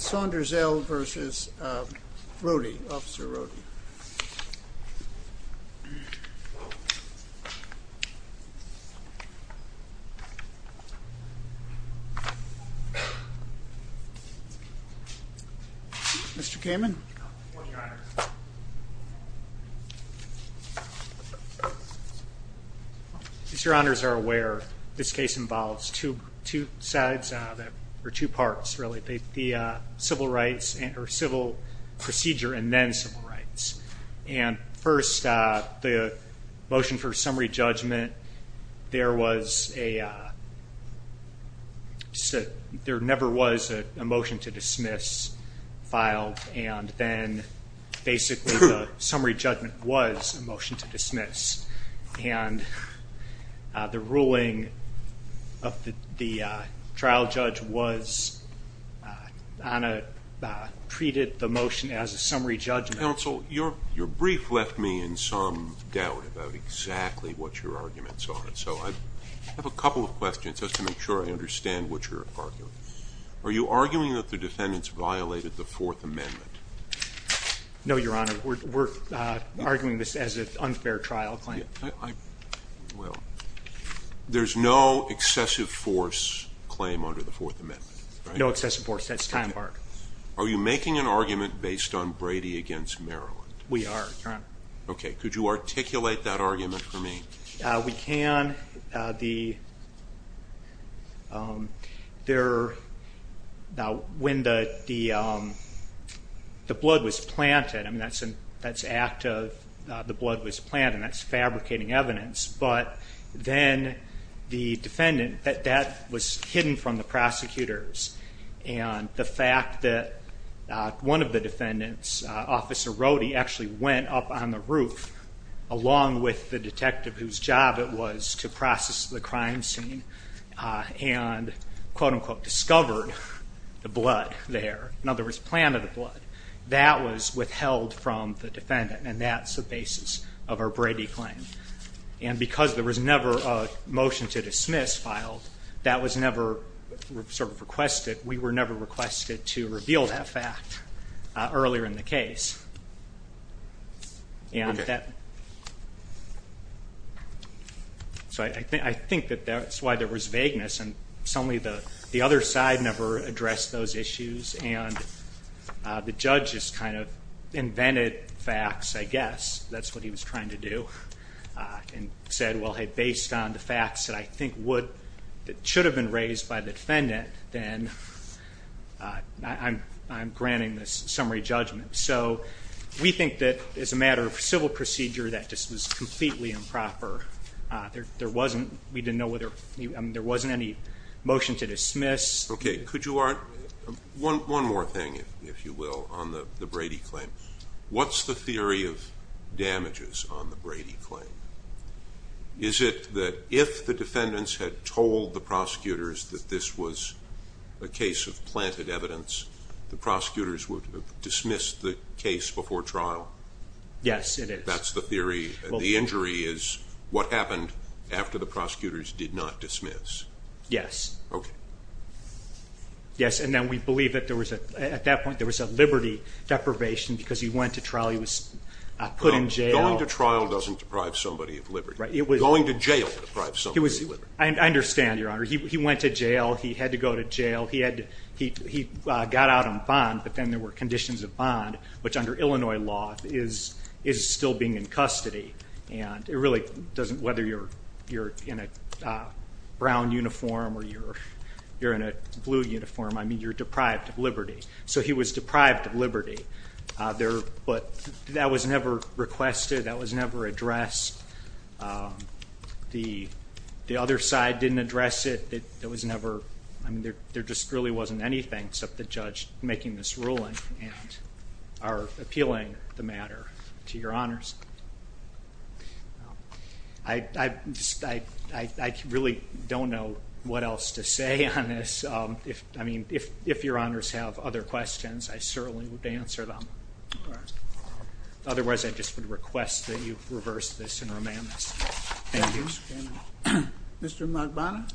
Saunders-El v. Rohde, Officer Rohde. Mr. Kamen. As your honors are aware, this case involves two sides, or two parts really. The civil rights, or civil procedure and then civil rights. And first the motion for summary judgment, there was a, there never was a motion to dismiss filed and then basically the summary judgment was a motion to dismiss. And the ruling of the trial judge was on a, treated the motion as a summary judgment. Counsel, your brief left me in some doubt about exactly what your arguments are, so I have a couple of questions just to make sure I understand what you're arguing. Are you arguing that the defendants violated the Fourth Amendment? No, your honor, we're arguing this as an unfair trial claim. Well, there's no excessive force claim under the Fourth Amendment, right? No excessive force, that's time barred. Are you making an argument based on Brady against Maryland? We are, your honor. Okay, could you articulate that argument for me? We can, the, there, now when the, the, the blood was planted, I mean that's an, that's active, the blood was planted, that's fabricating evidence, but then the defendant, that, that was hidden from the prosecutors. And the fact that one of the defendants, Officer Rohde, actually went up on the roof along with the detective whose job it was to process the crime scene and, quote unquote, discovered the blood there. That was withheld from the defendant, and that's the basis of our Brady claim. And because there was never a motion to dismiss filed, that was never sort of requested. We were never requested to reveal that fact earlier in the case. And that, so I think, I think that that's why there was vagueness. And suddenly the, the other side never addressed those issues, and the judge just kind of invented facts, I guess. That's what he was trying to do. And said, well, hey, based on the facts that I think would, that should have been raised by the defendant, then I'm, I'm granting this summary judgment. So we think that as a matter of civil procedure, that just was completely improper. There, there wasn't, we didn't know whether, there wasn't any motion to dismiss. Okay, could you, one, one more thing, if you will, on the, the Brady claim. What's the theory of damages on the Brady claim? Is it that if the defendants had told the prosecutors that this was a case of planted evidence, the prosecutors would have dismissed the case before trial? Yes, it is. That's the theory. The injury is what happened after the prosecutors did not dismiss. Yes. Okay. Yes, and then we believe that there was a, at that point there was a liberty deprivation because he went to trial, he was put in jail. Going to trial doesn't deprive somebody of liberty. Right, it was. Going to jail deprives somebody of liberty. I understand, Your Honor. He, he went to jail, he had to go to jail. He had to, he, he got out on bond, but then there were conditions of bond, which under Illinois law is, is still being in custody. And it really doesn't, whether you're, you're in a brown uniform or you're, you're in a blue uniform, I mean you're deprived of liberty. So he was deprived of liberty. There, but that was never requested, that was never addressed. The, the other side didn't address it. It, it was never, I mean there, there just really wasn't anything except the judge making this ruling and our appealing the matter to Your Honors. I, I, I, I, I really don't know what else to say on this. If, I mean, if, if Your Honors have other questions, I certainly would answer them. Otherwise, I just would request that you reverse this and remand this. Thank you. Mr. Magbana.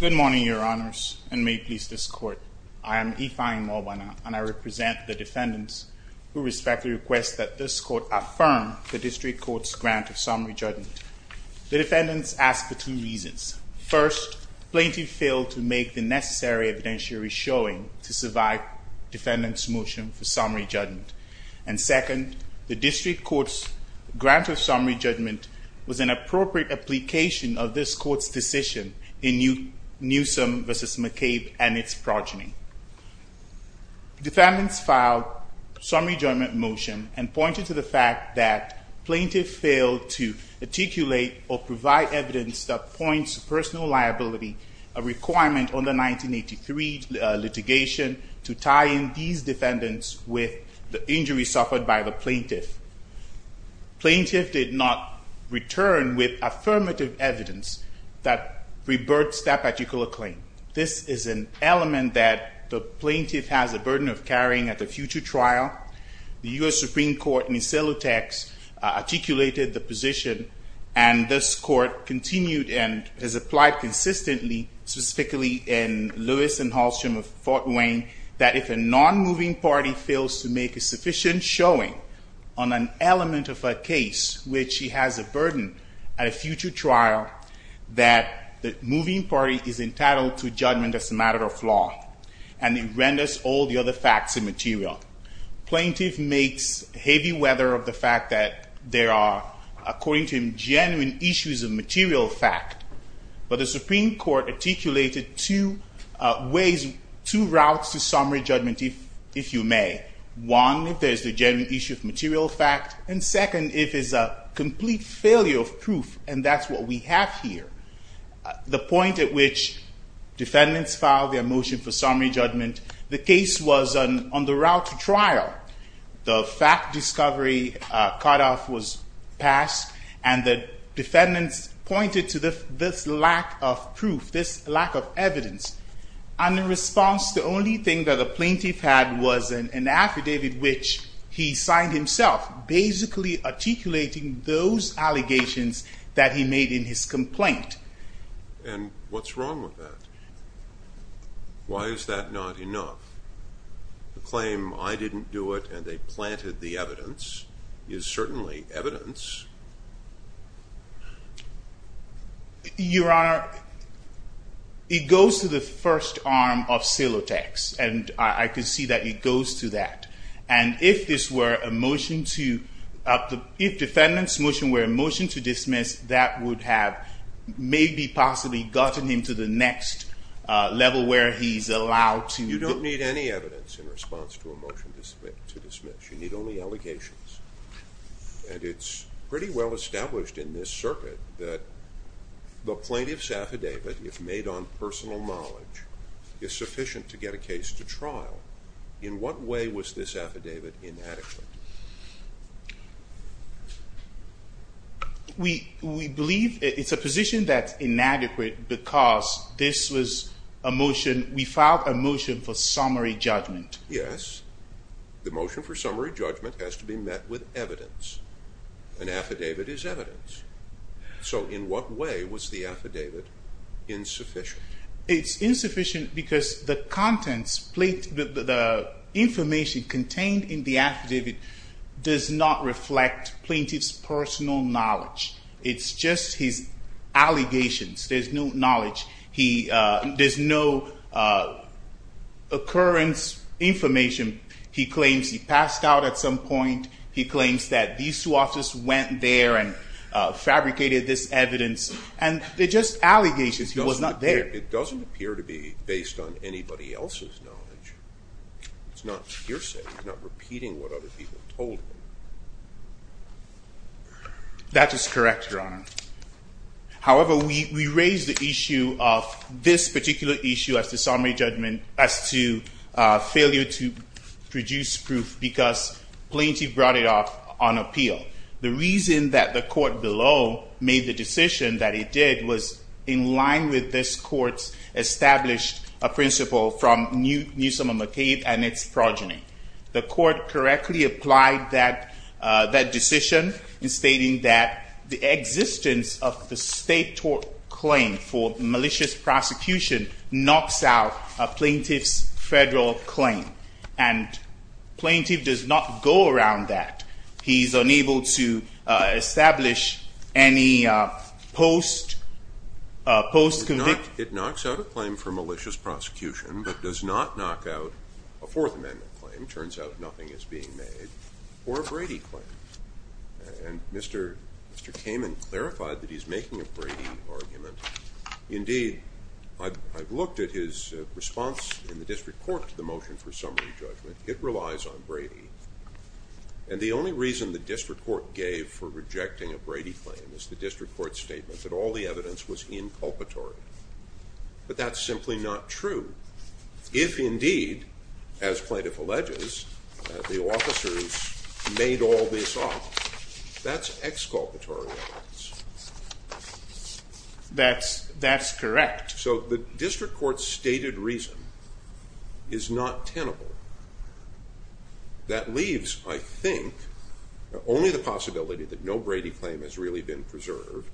Good morning, Your Honors, and may it please this Court. I am Ife-Aye Magbana, and I represent the defendants who respectfully request that this Court affirm the District Court's grant of summary judgment. The defendants ask for two reasons. First, plaintiff failed to make the necessary evidentiary showing to survive defendant's motion for summary judgment. And second, the District Court's grant of summary judgment was an appropriate application of this Court's decision in Newsom v. McCabe and its progeny. Defendants filed summary judgment motion and pointed to the fact that plaintiff failed to articulate or provide evidence that points to personal liability, a requirement on the 1983 litigation to tie in these defendants with the injury suffered by the plaintiff. Plaintiff did not return with affirmative evidence that reverts that particular claim. This is an element that the plaintiff has a burden of carrying at a future trial. The U.S. Supreme Court in Isiltex articulated the position, and this Court continued and has applied consistently, specifically in Lewis and Halstrom v. Fort Wayne, that if a non-moving party fails to make a sufficient showing on an element of a case which he has a burden at a future trial, that the moving party is entitled to judgment as a matter of law. And it renders all the other facts immaterial. Plaintiff makes heavy weather of the fact that there are, according to him, genuine issues of material fact. But the Supreme Court articulated two ways, two routes to summary judgment, if you may. One, if there's a genuine issue of material fact. And second, if it's a complete failure of proof, and that's what we have here. The point at which defendants filed their motion for summary judgment, the case was on the route to trial. The fact discovery cutoff was passed, and the defendants pointed to this lack of proof, this lack of evidence. And in response, the only thing that the plaintiff had was an affidavit which he signed himself, basically articulating those allegations that he made in his complaint. And what's wrong with that? Why is that not enough? The claim, I didn't do it and they planted the evidence, is certainly evidence. Your Honor, it goes to the first arm of Silotex, and I can see that it goes to that. And if this were a motion to, if defendant's motion were a motion to dismiss, that would have maybe possibly gotten him to the next level where he's allowed to. You don't need any evidence in response to a motion to dismiss. You need only allegations. And it's pretty well established in this circuit that the plaintiff's affidavit, if made on personal knowledge, is sufficient to get a case to trial. In what way was this affidavit inadequate? We believe it's a position that's inadequate because this was a motion, we filed a motion for summary judgment. Yes. The motion for summary judgment has to be met with evidence. An affidavit is evidence. So in what way was the affidavit insufficient? It's insufficient because the contents, the information contained in the affidavit, does not reflect plaintiff's personal knowledge. It's just his allegations. There's no knowledge. There's no occurrence information. He claims he passed out at some point. He claims that these two officers went there and fabricated this evidence. And they're just allegations. He was not there. It doesn't appear to be based on anybody else's knowledge. It's not hearsay. It's not repeating what other people told him. That is correct, Your Honor. However, we raise the issue of this particular issue as to summary judgment, as to failure to produce proof because plaintiff brought it off on appeal. The reason that the court below made the decision that it did was in line with this court's established principle from Newsom and McCabe and its progeny. The court correctly applied that decision in stating that the existence of the state-taught claim for malicious prosecution knocks out a plaintiff's federal claim. And plaintiff does not go around that. He's unable to establish any post-conviction. It knocks out a claim for malicious prosecution, but does not knock out a Fourth Amendment claim. It turns out nothing is being made. Or a Brady claim. And Mr. Kamen clarified that he's making a Brady argument. Indeed, I've looked at his response in the district court to the motion for summary judgment. It relies on Brady. And the only reason the district court gave for rejecting a Brady claim is the district court's statement that all the evidence was inculpatory. But that's simply not true. If, indeed, as plaintiff alleges, the officers made all this up, that's exculpatory evidence. That's correct. So the district court's stated reason is not tenable. That leaves, I think, only the possibility that no Brady claim has really been preserved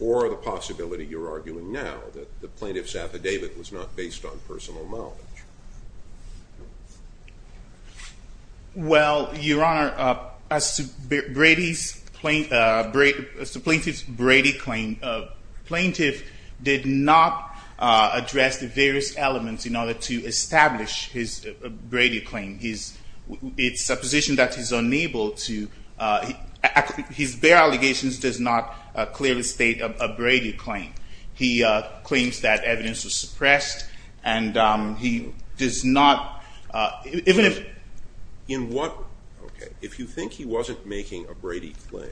or the possibility, you're arguing now, that the plaintiff's affidavit was not based on personal knowledge. Well, Your Honor, as to plaintiff's Brady claim, the plaintiff did not address the various elements in order to establish his Brady claim. It's a position that he's unable to. His bare allegations does not clearly state a Brady claim. He claims that evidence was suppressed, and he does not. If you think he wasn't making a Brady claim,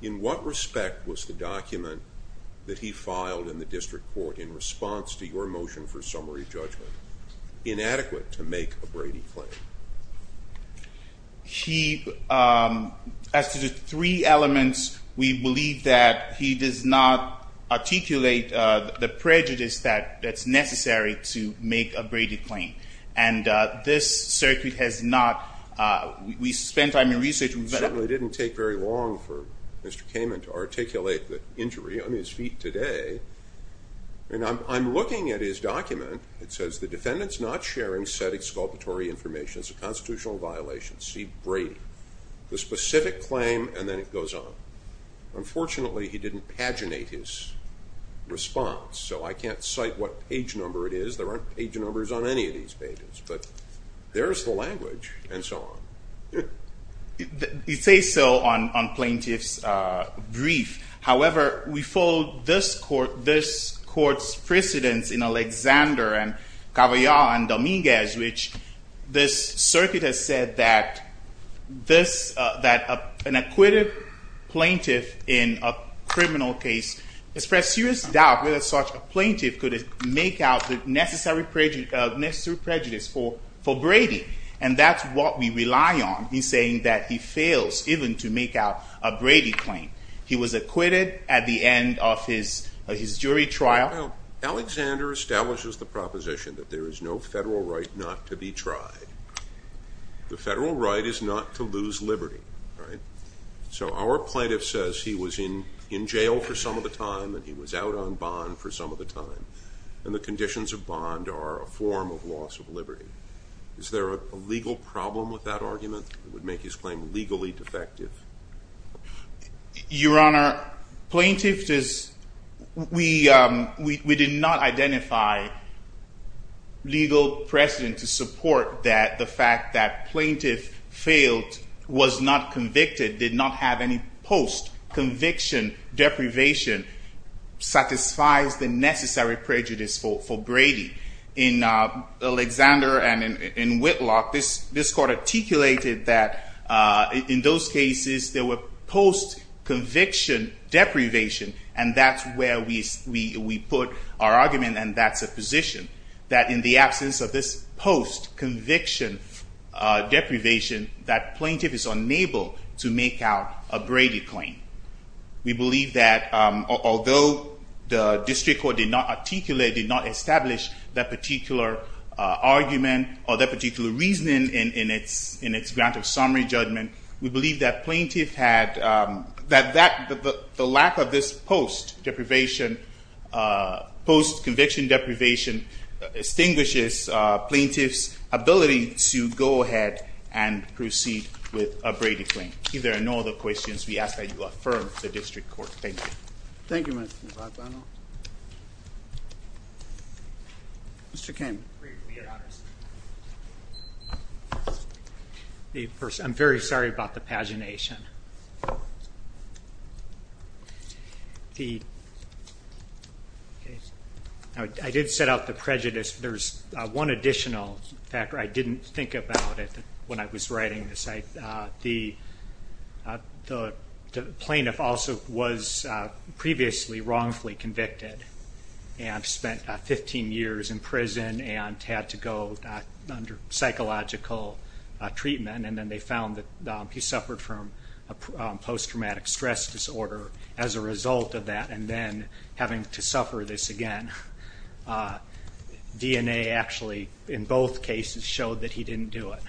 in what respect was the document that he filed in the district court in response to your motion for summary judgment inadequate to make a Brady claim? As to the three elements, we believe that he does not articulate the prejudice that's necessary to make a Brady claim. And this circuit has not, we spent time in research. It certainly didn't take very long for Mr. Kamen to articulate the injury on his feet today. And I'm looking at his document. It says the defendant's not sharing said exculpatory information. It's a constitutional violation. See Brady. The specific claim, and then it goes on. Unfortunately, he didn't paginate his response. So I can't cite what page number it is. There aren't page numbers on any of these pages. But there's the language, and so on. It says so on plaintiff's brief. However, we follow this court's precedence in Alexander and Cavaillat and Dominguez, which this circuit has said that an acquitted plaintiff in a criminal case expressed serious doubt whether such a plaintiff could make out the necessary prejudice for Brady. And that's what we rely on in saying that he fails even to make out a Brady claim. He was acquitted at the end of his jury trial. Alexander establishes the proposition that there is no federal right not to be tried. The federal right is not to lose liberty. So our plaintiff says he was in jail for some of the time and he was out on bond for some of the time. And the conditions of bond are a form of loss of liberty. Is there a legal problem with that argument that would make his claim legally defective? Your Honor, plaintiff does we did not identify legal precedent to support that the fact that plaintiff failed was not convicted, did not have any post-conviction deprivation, satisfies the necessary prejudice for Brady. In Alexander and in Whitlock, this court articulated that in those cases there were post-conviction deprivation. And that's where we put our argument and that's a position. That in the absence of this post-conviction deprivation, that plaintiff is unable to make out a Brady claim. We believe that although the district court did not articulate, did not establish that particular argument or that particular reasoning in its grant of summary judgment, we believe that the lack of this post-conviction deprivation extinguishes plaintiff's ability to go ahead and proceed with a Brady claim. If there are no other questions, we ask that you affirm the district court. Thank you. Thank you, Mr. Navarro. Mr. Kane. I'm very sorry about the pagination. I did set out the prejudice. There's one additional factor. I didn't think about it when I was writing this. The plaintiff also was previously wrongfully convicted and spent 15 years in prison and had to go under psychological treatment. And then they found that he suffered from post-traumatic stress disorder as a result of that and then having to suffer this again. DNA actually in both cases showed that he didn't do it.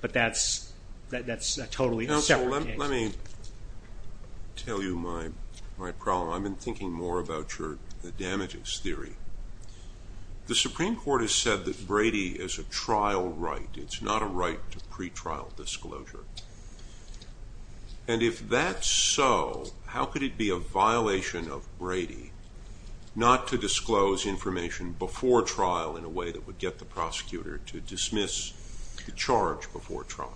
But that's a totally separate case. Let me tell you my problem. I've been thinking more about the damages theory. The Supreme Court has said that Brady is a trial right. It's not a right to pretrial disclosure. And if that's so, how could it be a violation of Brady not to disclose information before trial in a way that would get the prosecutor to dismiss the charge before trial?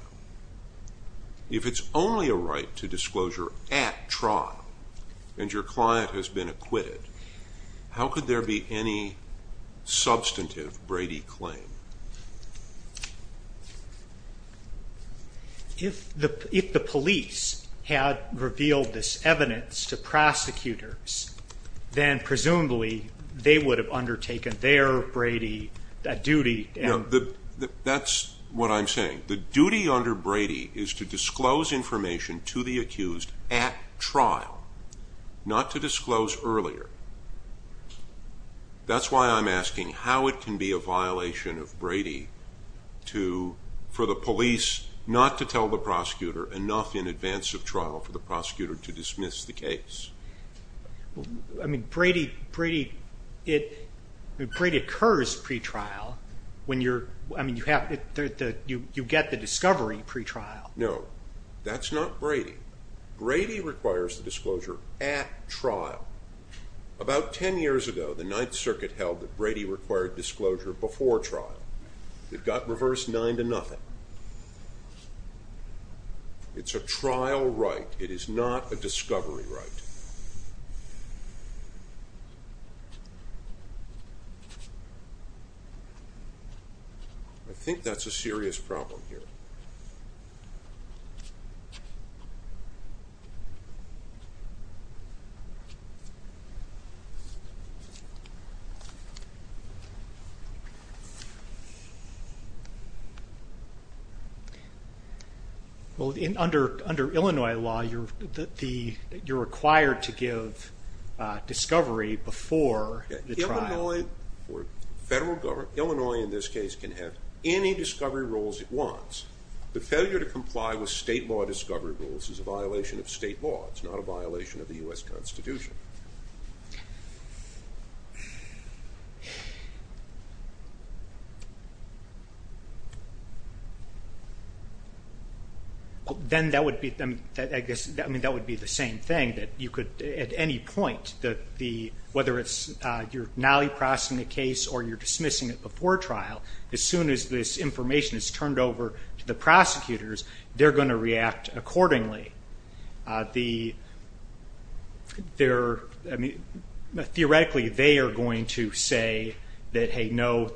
If it's only a right to disclosure at trial and your client has been acquitted, how could there be any substantive Brady claim? If the police had revealed this evidence to prosecutors, then presumably they would have undertaken their Brady duty. That's what I'm saying. The duty under Brady is to disclose information to the accused at trial, not to disclose earlier. That's why I'm asking how it can be a violation of Brady for the police not to tell the prosecutor enough in advance of trial for the prosecutor to dismiss the case. Brady occurs pretrial. You get the discovery pretrial. No, that's not Brady. Brady requires the disclosure at trial. About ten years ago, the Ninth Circuit held that Brady required disclosure before trial. It got reversed nine to nothing. It's a trial right. It is not a discovery right. I think that's a serious problem here. Under Illinois law, you're required to give discovery before the trial. Illinois, in this case, can have any discovery rules it wants. The failure to comply with state law discovery rules is a violation of state law. It's not a violation of the U.S. Constitution. Then that would be the same thing. At any point, whether you're now processing the case or you're dismissing it before trial, as soon as this information is turned over to the prosecutors, they're going to react accordingly. Theoretically, they are going to say, no,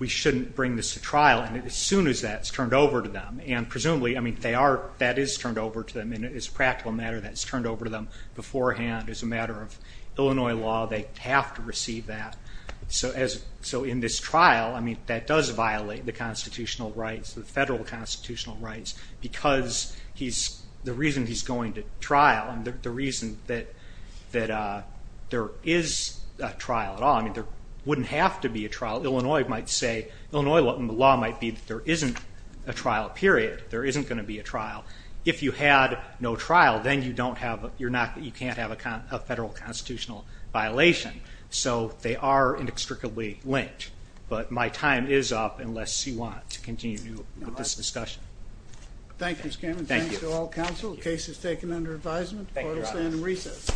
we shouldn't bring this to trial as soon as that's turned over to them. Presumably, that is turned over to them. It's a practical matter that it's turned over to them beforehand. As a matter of Illinois law, they have to receive that. In this trial, that does violate the constitutional rights, the federal constitutional rights, because the reason he's going to trial and the reason that there is a trial at all. There wouldn't have to be a trial. Illinois law might be that there isn't a trial, period. There isn't going to be a trial. If you had no trial, then you can't have a federal constitutional violation. They are inextricably linked. My time is up unless you want to continue with this discussion. Thank you, Mr. Cameron. Thank you to all counsel. The case is taken under advisement. Court is in recess. Thank you.